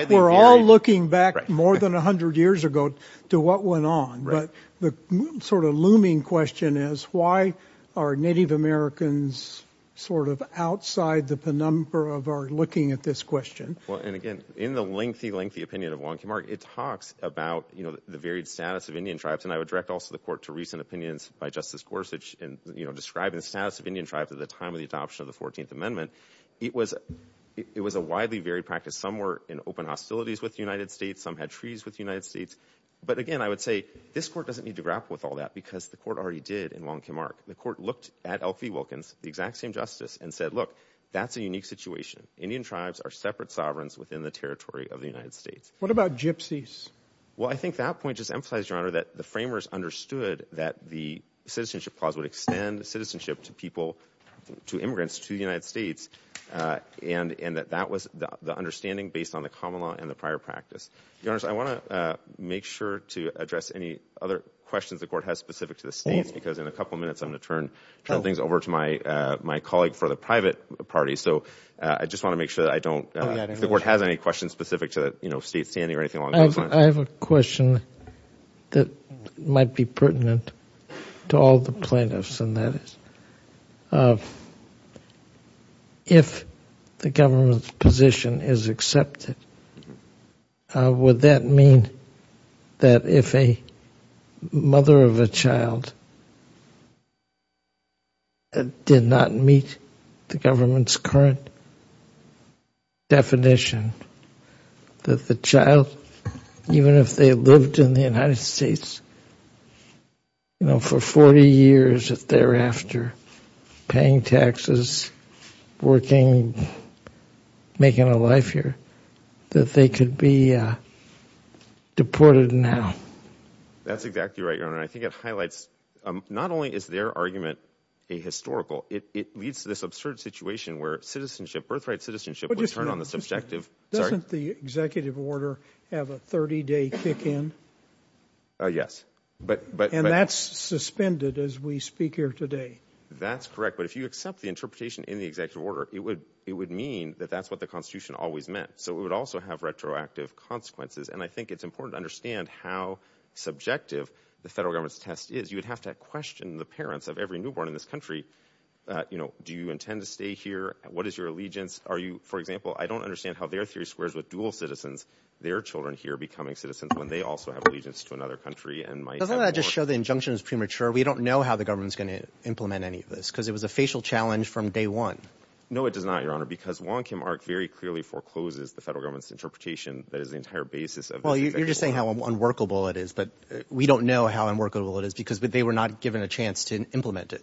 We're all looking back more than 100 years ago to what went on. But the sort of looming question is, why are Native Americans sort of outside the penumbra of our looking at this question? Well, and again, in the lengthy, lengthy opinion of Wong Kim Ark, it talks about the varied status of Indian tribes. And I would direct also the court to recent opinions by Justice Gorsuch in describing the status of Indian tribes at the time of the adoption of the 14th Amendment. It was a widely varied practice. Some were in open hostilities with the United States. Some had treaties with the United States. But again, I would say this court doesn't need to grapple with all that because the court already did in Wong Kim Ark. The court looked at L.P. Wilkins, the exact same justice, and said, look, that's a unique situation. Indian tribes are separate sovereigns within the territory of the United States. What about gypsies? Well, I think that point just emphasized, Your Honor, that the framers understood that the citizenship clause would extend citizenship to people, to immigrants, to the United States. And that that was the understanding based on the common law and the prior practice. Your Honor, I want to make sure to address any other questions the court has specific to the states because in a couple of minutes, I'm going to turn things over to my colleague for the private party. So I just want to make sure that I don't, if the court has any questions specific to, you know, state standing or anything along those lines. I have a question that might be pertinent to all the plaintiffs. And that is, if the government's position is accepted, would that mean that if a mother of a child did not meet the government's current definition, that the child, even if they lived in the United States, you know, for 40 years thereafter, paying taxes, working, making a life here, that they could be deported now? That's exactly right, Your Honor. I think it highlights, not only is their argument a historical, it leads to this absurd situation where citizenship, birthright citizenship, would turn on the subjective. Doesn't the executive order have a 30-day kick in? Yes. And that's suspended as we speak here today. That's correct. But if you accept the interpretation in the executive order, it would mean that that's what the Constitution always meant. So it would also have retroactive consequences. And I think it's important to understand how subjective the federal government's test is. You would have to question the parents of every newborn in this country. You know, do you intend to stay here? What is your allegiance? For example, I don't understand how their theory squares with dual citizens, their children here becoming citizens when they also have allegiance to another country and might have Doesn't that just show the injunction is premature? We don't know how the government's going to implement any of this, because it was a facial challenge from day one. No, it does not, Your Honor, because Wong Kim Ark very clearly forecloses the federal government's interpretation that is the entire basis of the executive order. Well, you're just saying how unworkable it is, but we don't know how unworkable it is because they were not given a chance to implement it.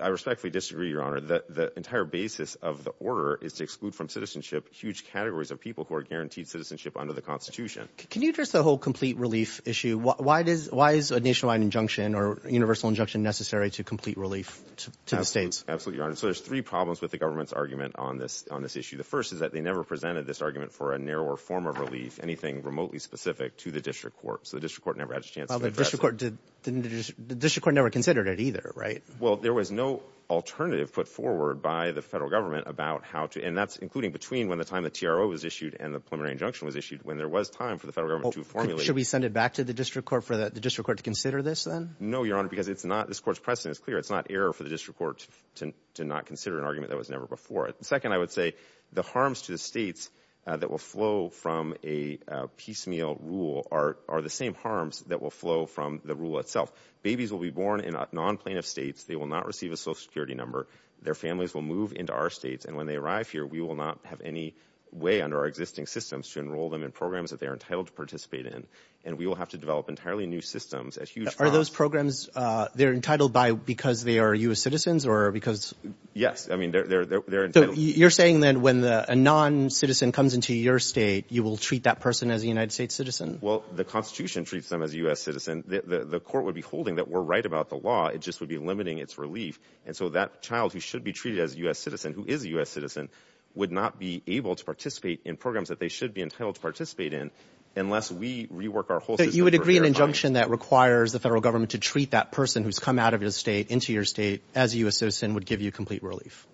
I respectfully disagree, Your Honor. The entire basis of the order is to exclude from citizenship huge categories of people who are guaranteed citizenship under the Constitution. Can you address the whole complete relief issue? Why is a nationwide injunction or universal injunction necessary to complete relief to the states? Absolutely, Your Honor. So there's three problems with the government's argument on this issue. The first is that they never presented this argument for a narrower form of relief, anything remotely specific to the district court. So the district court never had a chance to address it. The district court never considered it either, right? Well, there was no alternative put forward by the federal government about how to, and that's including between when the time the TRO was issued and the preliminary injunction was issued when there was time for the federal government to formulate. Should we send it back to the district court for the district court to consider this then? No, Your Honor, because it's not, this court's precedent is clear. It's not error for the district court to not consider an argument that was never before. Second, I would say the harms to the states that will flow from a piecemeal rule are the same harms that will flow from the rule itself. Babies will be born in non-plaintiff states. They will not receive a social security number. Their families will move into our states. And when they arrive here, we will not have any way under our existing systems to enroll them in programs that they are entitled to participate in. And we will have to develop entirely new systems. Are those programs, they're entitled by, because they are U.S. citizens or because? Yes. I mean, they're entitled. You're saying then when a non-citizen comes into your state, you will treat that person as a United States citizen? Well, the Constitution treats them as a U.S. citizen. The court would be holding that we're right about the law. It just would be limiting its relief. And so that child who should be treated as a U.S. citizen, who is a U.S. citizen, would not be able to participate in programs that they should be entitled to participate in unless we rework our whole system. You would agree an injunction that requires the federal government to treat that person who's come out of his state into your state as a U.S. citizen would give you complete relief?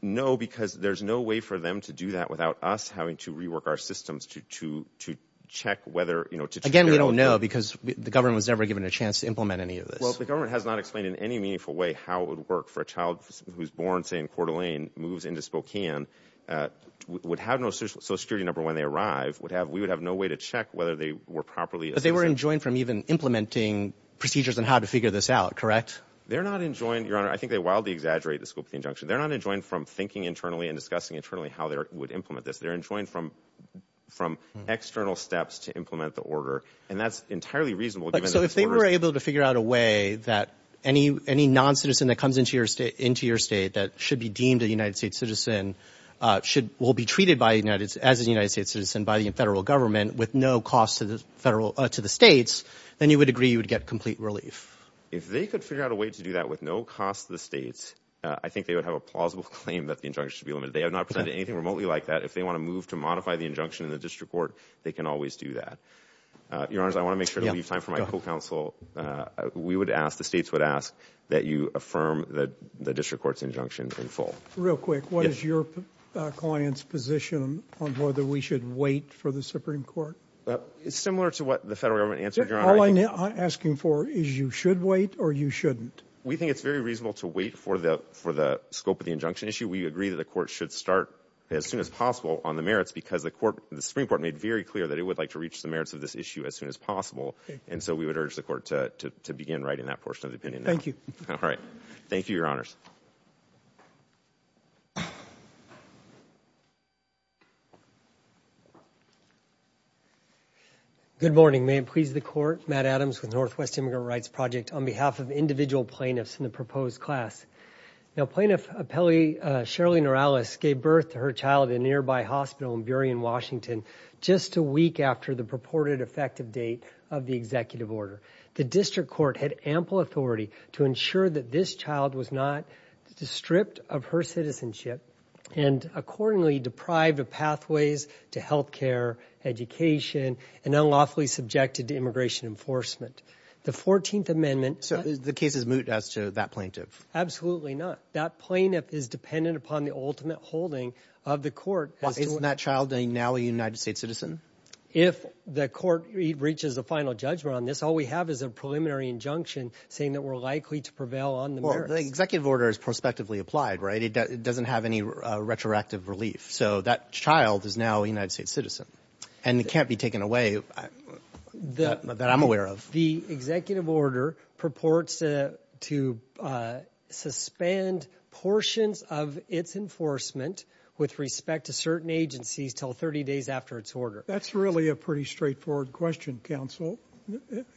No, because there's no way for them to do that without us having to rework our systems to check whether, you know, to... And we don't know because the government was never given a chance to implement any of this. Well, the government has not explained in any meaningful way how it would work for a child who's born, say, in Coeur d'Alene, moves into Spokane, would have no social security number when they arrive. We would have no way to check whether they were properly... But they were enjoined from even implementing procedures on how to figure this out, correct? They're not enjoined, Your Honor. I think they wildly exaggerate the scope of the injunction. They're not enjoined from thinking internally and discussing internally how they would implement this. They're enjoined from external steps to implement the order. And that's entirely reasonable given that... So if they were able to figure out a way that any non-citizen that comes into your state that should be deemed a United States citizen will be treated as a United States citizen by the federal government with no cost to the states, then you would agree you would get complete relief? If they could figure out a way to do that with no cost to the states, I think they would have a plausible claim that the injunction should be limited. They have not presented anything remotely like that. If they want to move to modify the injunction in the district court, they can always do that. Your Honor, I want to make sure we have time for my co-counsel. We would ask, the states would ask that you affirm the district court's injunction in Real quick, what is your client's position on whether we should wait for the Supreme Court? It's similar to what the federal government answered, Your Honor. All I'm asking for is you should wait or you shouldn't? We think it's very reasonable to wait for the scope of the injunction issue. We agree that the court should start as soon as possible on the merits because the Supreme Court made very clear that it would like to reach the merits of this issue as soon as possible. And so we would urge the court to begin writing that portion of the opinion. Thank you. All right. Thank you, Your Honors. Good morning. May it please the court. Matt Adams with Northwest Immigrant Rights Project on behalf of individual plaintiffs in the proposed class. Now, plaintiff appellee Shirley Norales gave birth to her child in a nearby hospital in Burien, Washington, just a week after the purported effective date of the executive order. The district court had ample authority to ensure that this child was not stripped of her citizenship and accordingly deprived of pathways to health care, education, and unlawfully subjected to immigration enforcement. The 14th Amendment. So the case is moot as to that plaintiff? Absolutely not. That plaintiff is dependent upon the ultimate holding of the court. Isn't that child now a United States citizen? If the court reaches a final judgment on this, all we have is a preliminary injunction saying that we're likely to prevail on the merits. Well, the executive order is prospectively applied, right? It doesn't have any retroactive relief. So that child is now a United States citizen and it can't be taken away that I'm aware of. The executive order purports to suspend portions of its enforcement with respect to certain agencies till 30 days after its order. That's really a pretty straightforward question, counsel.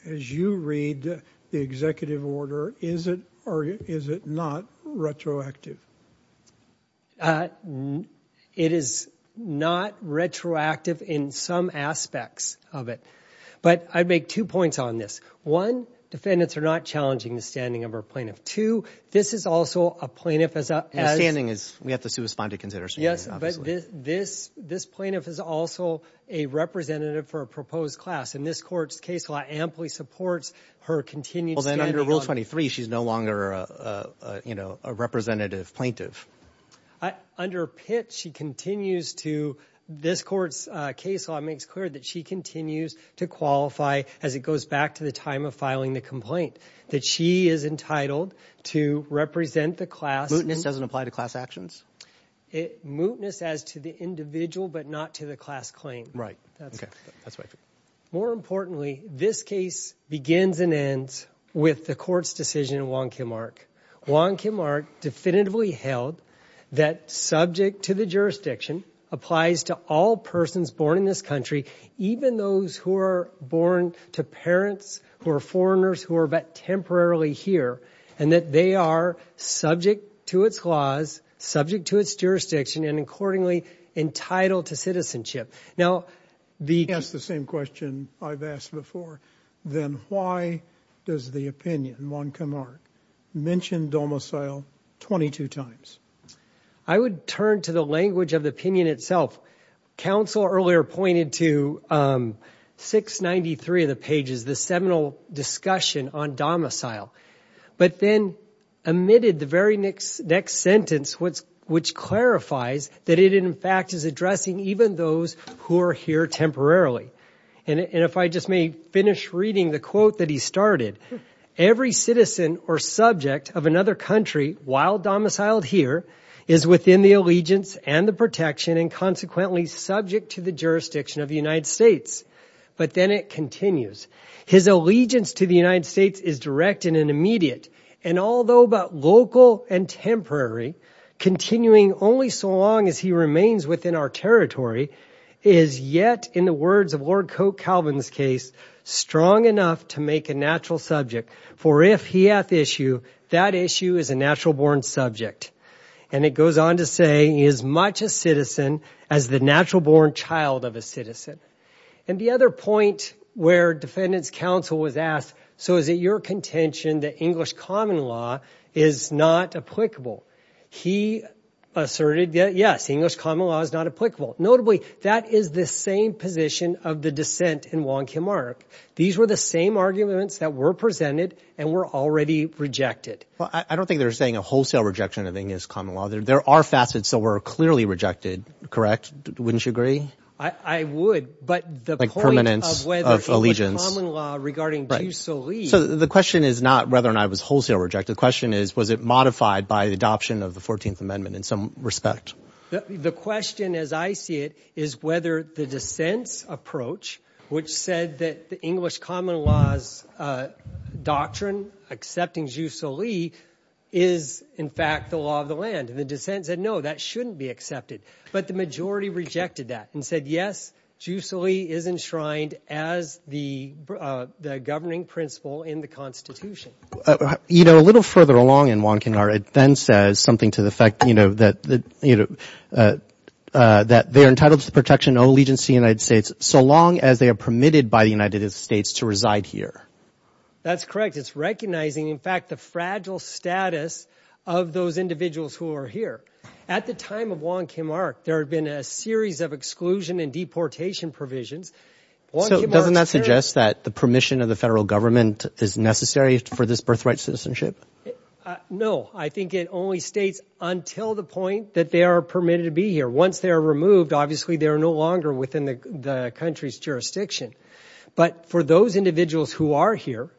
As you read the executive order, is it or is it not retroactive? It is not retroactive in some aspects of it. But I'd make two points on this. One, defendants are not challenging the standing of our plaintiff. Two, this is also a plaintiff as a standing is. We have to suspend to consider. So yes, but this this plaintiff is also a representative for a proposed class in this court's case law. Amply supports her continued. Well, then under Rule 23, she's no longer, you know, a representative plaintiff. I under pitch. She continues to this court's case. So it makes clear that she continues to qualify as it goes back to the time of filing the complaint that she is entitled to represent the class doesn't apply to class actions. Mootness as to the individual, but not to the class claim. Right? More importantly, this case begins and ends with the court's decision. Wonky Mark. Wonky Mark definitively held that subject to the jurisdiction applies to all persons born in this country, even those who are born to parents who are foreigners who are temporarily here and that they are subject to its laws, subject to its jurisdiction and accordingly entitled to citizenship. Now, the same question I've asked before, then why does the opinion wonky Mark mentioned domicile 22 times? I would turn to the language of the opinion itself. Counsel earlier pointed to 693 of the pages, the seminal discussion on domicile, but then omitted the very next sentence, which clarifies that it, in fact, is addressing even those who are here temporarily. And if I just may finish reading the quote that he started, every citizen or subject of another country while domiciled here is within the allegiance and the protection and consequently subject to the jurisdiction of the United States. But then it continues. His allegiance to the United States is direct and immediate. And although about local and temporary, continuing only so long as he remains within our territory is yet, in the words of Lord Coke, Calvin's case, strong enough to make a natural subject for if he at the issue, that issue is a natural born subject. And it goes on to say as much a citizen as the natural born child of a citizen. And the other point where defendants counsel was asked, so is it your contention that English common law is not applicable? He asserted, yes, English common law is not applicable. Notably, that is the same position of the dissent in Wong Kim Ark. These were the same arguments that were presented and were already rejected. Well, I don't think they're saying a wholesale rejection of English common law. There are facets that were clearly rejected. Correct. Wouldn't you agree? I would. But the permanence of allegiance regarding. So the question is not whether or not it was wholesale rejected. The question is, was it modified by the adoption of the 14th Amendment in some respect? The question, as I see it, is whether the dissent's approach, which said that the English common laws doctrine accepting Jusolee is, in fact, the law of the land and the dissent said, no, that shouldn't be accepted. But the majority rejected that. And said, yes, Jusolee is enshrined as the governing principle in the Constitution. You know, a little further along in Wong Kim Ark, it then says something to the effect, you know, that, you know, that they are entitled to the protection of allegiance to the United States so long as they are permitted by the United States to reside here. That's correct. It's recognizing, in fact, the fragile status of those individuals who are here. At the time of Wong Kim Ark, there had been a series of exclusion and deportation provisions. So doesn't that suggest that the permission of the federal government is necessary for this birthright citizenship? No, I think it only states until the point that they are permitted to be here. Once they are removed, obviously, they are no longer within the country's jurisdiction. But for those individuals who are here,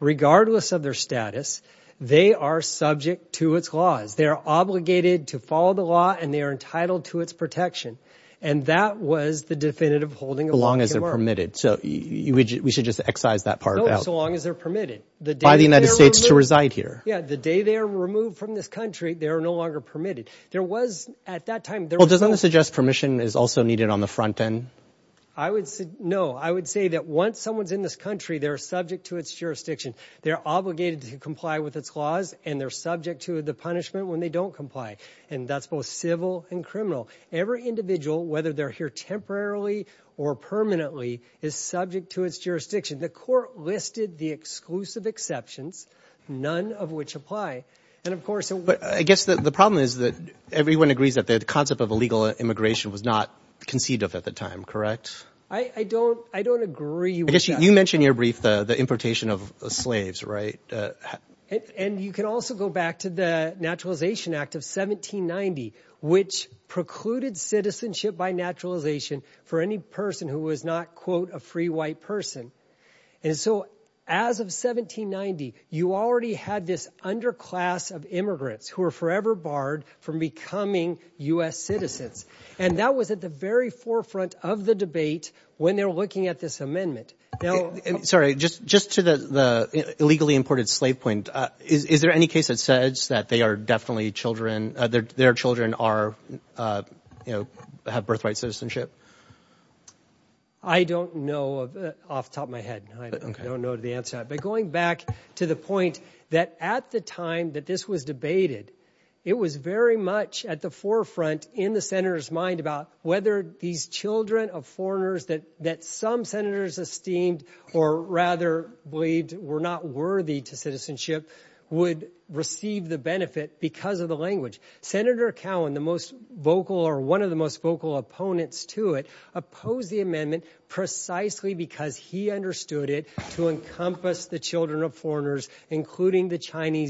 regardless of their status, they are subject to its laws. They are obligated to follow the law and they are entitled to its protection. And that was the definitive holding of Wong Kim Ark. So long as they're permitted. So we should just excise that part out. No, so long as they're permitted. By the United States to reside here. Yeah, the day they are removed from this country, they are no longer permitted. There was, at that time, there was... Well, doesn't that suggest permission is also needed on the front end? I would say no. I would say that once someone's in this country, they're subject to its jurisdiction. They're obligated to comply with its laws and they're subject to the punishment when they don't comply. And that's both civil and criminal. Every individual, whether they're here temporarily or permanently, is subject to its jurisdiction. The court listed the exclusive exceptions, none of which apply. And of course... But I guess the problem is that everyone agrees that the concept of illegal immigration was not conceived of at the time, correct? I don't agree with that. You mentioned your brief, the importation of slaves, right? And you can also go back to the Naturalization Act of 1790, which precluded citizenship by naturalization for any person who was not, quote, a free white person. And so as of 1790, you already had this underclass of immigrants who are forever barred from becoming U.S. citizens. And that was at the very forefront of the debate when they were looking at this amendment. Sorry, just to the illegally imported slave point, is there any case that says that they are definitely children, their children are, you know, have birthright citizenship? I don't know off the top of my head. I don't know the answer. But going back to the point that at the time that this was debated, it was very much at the forefront in the senator's mind about whether these children of foreigners that some senators esteemed or rather believed were not worthy to citizenship would receive the benefit because of the language. Senator Cowen, the most vocal or one of the most vocal opponents to it, opposed the amendment precisely because he understood it to encompass the children of foreigners, including the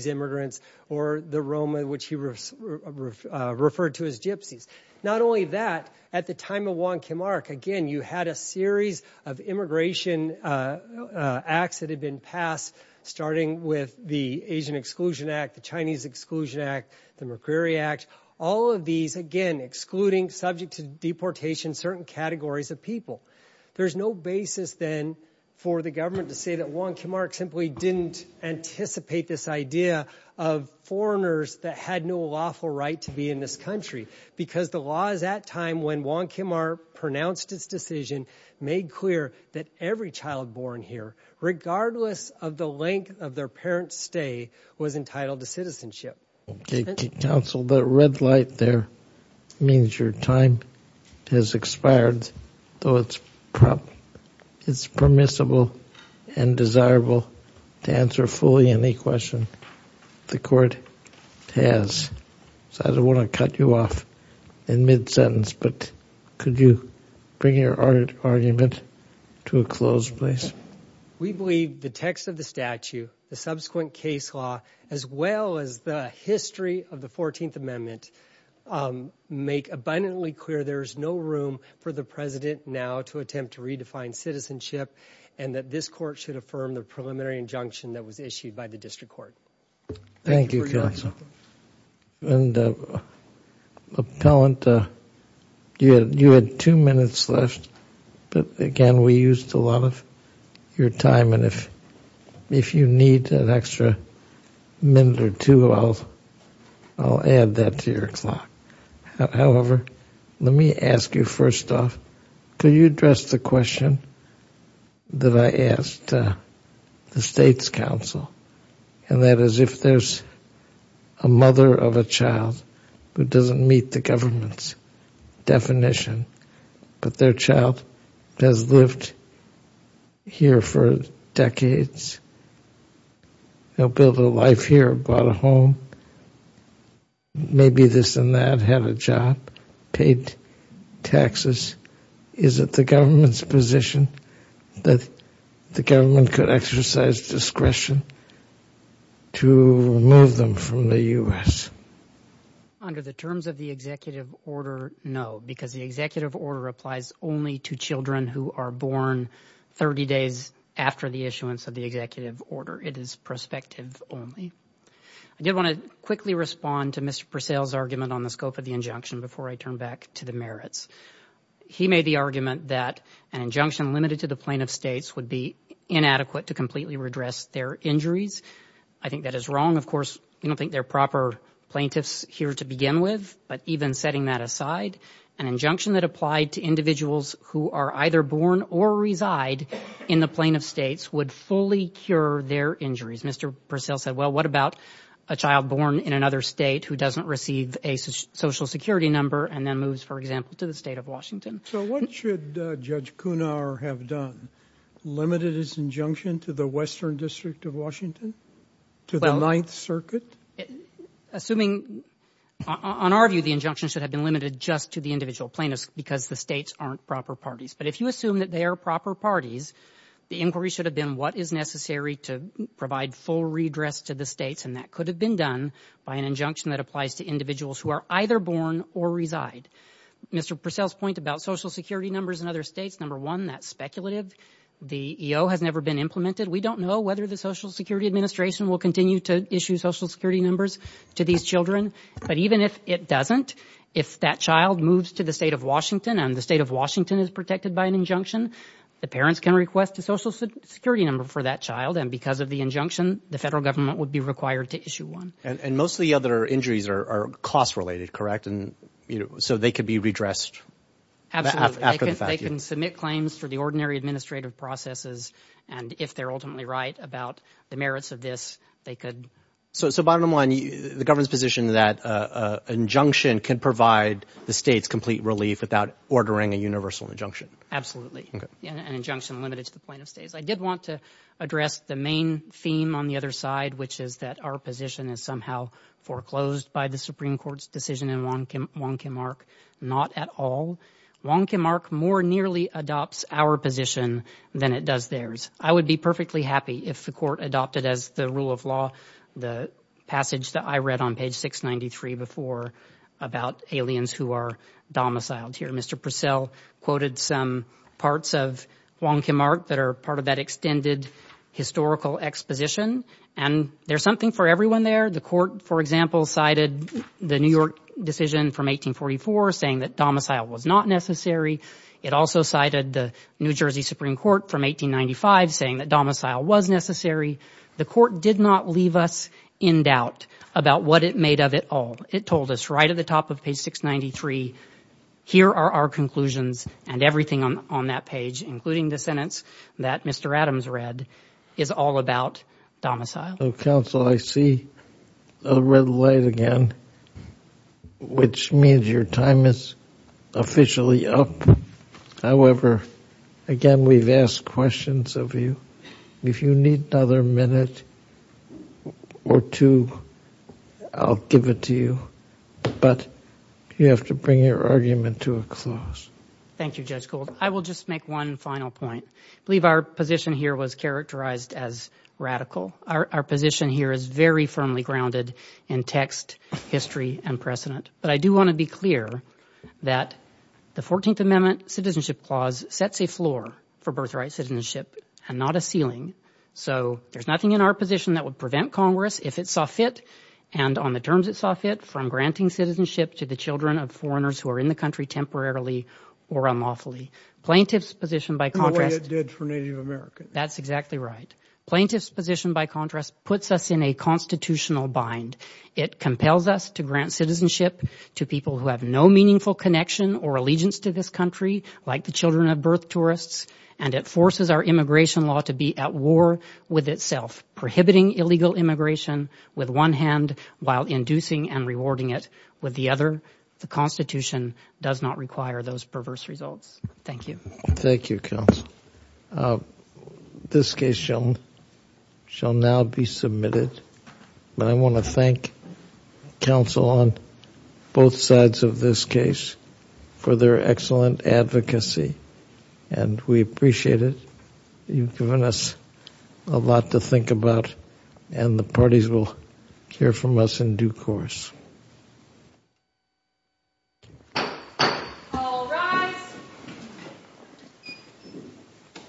immigrants or the Roma, which he referred to as gypsies. Not only that, at the time of Wong Kim Ark, again, you had a series of immigration acts that had been passed, starting with the Asian Exclusion Act, the Chinese Exclusion Act, the McCreary Act, all of these, again, excluding subject to deportation, certain categories of people. There's no basis then for the government to say that Wong Kim Ark simply didn't anticipate this idea of foreigners that had no lawful right to be in this country, because the law is at a time when Wong Kim Ark pronounced its decision, made clear that every child born here, regardless of the length of their parents' stay, was entitled to citizenship. Counsel, that red light there means your time has expired, though it's permissible and desirable to answer fully any question the court has. So I don't want to cut you off in mid-sentence, but could you bring your argument to a closed place? We believe the text of the statute, the subsequent case law, as well as the history of the 14th Amendment, make abundantly clear there is no room for the president now to attempt to find citizenship, and that this court should affirm the preliminary injunction that was issued by the district court. Thank you, counsel. And appellant, you had two minutes left, but again, we used a lot of your time. And if you need an extra minute or two, I'll add that to your clock. However, let me ask you first off, could you address the question that I asked the state's counsel, and that is if there's a mother of a child who doesn't meet the government's definition, but their child has lived here for decades, built a life here, bought a home, maybe this and that, had a job, paid taxes, is it the government's position that the government could exercise discretion to remove them from the U.S.? Under the terms of the executive order, no, because the executive order applies only to children who are born 30 days after the issuance of the executive order. It is prospective only. I did want to quickly respond to Mr. Purcell's argument on the scope of the injunction before I turn back to the merits. He made the argument that an injunction limited to the plaintiff states would be inadequate to completely redress their injuries. I think that is wrong. Of course, we don't think they're proper plaintiffs here to begin with. But even setting that aside, an injunction that applied to individuals who are either born or reside in the plaintiff states would fully cure their injuries. Mr. Purcell said, well, what about a child born in another state who doesn't receive a social security number and then moves, for example, to the state of Washington? So what should Judge Kunar have done? Limited his injunction to the Western District of Washington? To the Ninth Circuit? Assuming, on our view, the injunction should have been limited just to the individual plaintiffs because the states aren't proper parties. But if you assume that they are proper parties, the inquiry should have been what is necessary to provide full redress to the states. And that could have been done by an injunction that applies to individuals who are either born or reside. Mr. Purcell's point about social security numbers in other states, number one, that's speculative. The EO has never been implemented. We don't know whether the Social Security Administration will continue to issue social security numbers to these children. But even if it doesn't, if that child moves to the state of Washington and the state of Washington is protected by an injunction, the parents can request a social security number for that child. And because of the injunction, the federal government would be required to issue one. And most of the other injuries are cost-related, correct? And so they could be redressed after the fact? They can submit claims for the ordinary administrative processes. And if they're ultimately right about the merits of this, they could. So bottom line, the government's position that an injunction can provide the states complete relief without ordering a universal injunction? Absolutely. An injunction limited to the plaintiff's case. I did want to address the main theme on the other side, which is that our position is somehow foreclosed by the Supreme Court's decision in Wong Kim Ark. Not at all. Wong Kim Ark more nearly adopts our position than it does theirs. I would be perfectly happy if the court adopted as the rule of law the passage that I read on page 693 before about aliens who are domiciled here. Mr. Purcell quoted some parts of Wong Kim Ark that are part of that extended historical exposition. And there's something for everyone there. The court, for example, cited the New York decision from 1844 saying that domicile was not necessary. It also cited the New Jersey Supreme Court from 1895 saying that domicile was necessary. The court did not leave us in doubt about what it made of it all. It told us right at the top of page 693, here are our conclusions and everything on that page, including the sentence that Mr. Adams read, is all about domicile. So, counsel, I see a red light again, which means your time is officially up. However, again, we've asked questions of you. If you need another minute or two, I'll give it to you. But you have to bring your argument to a close. Thank you, Judge Gould. I will just make one final point. I believe our position here was characterized as radical. Our position here is very firmly grounded in text, history, and precedent. But I do want to be clear that the 14th Amendment Citizenship Clause sets a floor for birthright citizenship and not a ceiling. So, there's nothing in our position that would prevent Congress, if it saw fit, and on the terms it saw fit, from granting citizenship to the children of foreigners who are in the country temporarily or unlawfully. Plaintiff's position, by contrast- The way it did for Native Americans. That's exactly right. Plaintiff's position, by contrast, puts us in a constitutional bind. It compels us to grant citizenship to people who have no meaningful connection or allegiance to this country, like the children of birth tourists. And it forces our immigration law to be at war with itself, prohibiting illegal immigration with one hand while inducing and rewarding it with the other. The Constitution does not require those perverse results. Thank you. Thank you, counsel. This case shall now be submitted. But I want to thank counsel on both sides of this case for their excellent advocacy, and we appreciate it. You've given us a lot to think about, and the parties will hear from us in due course. All rise.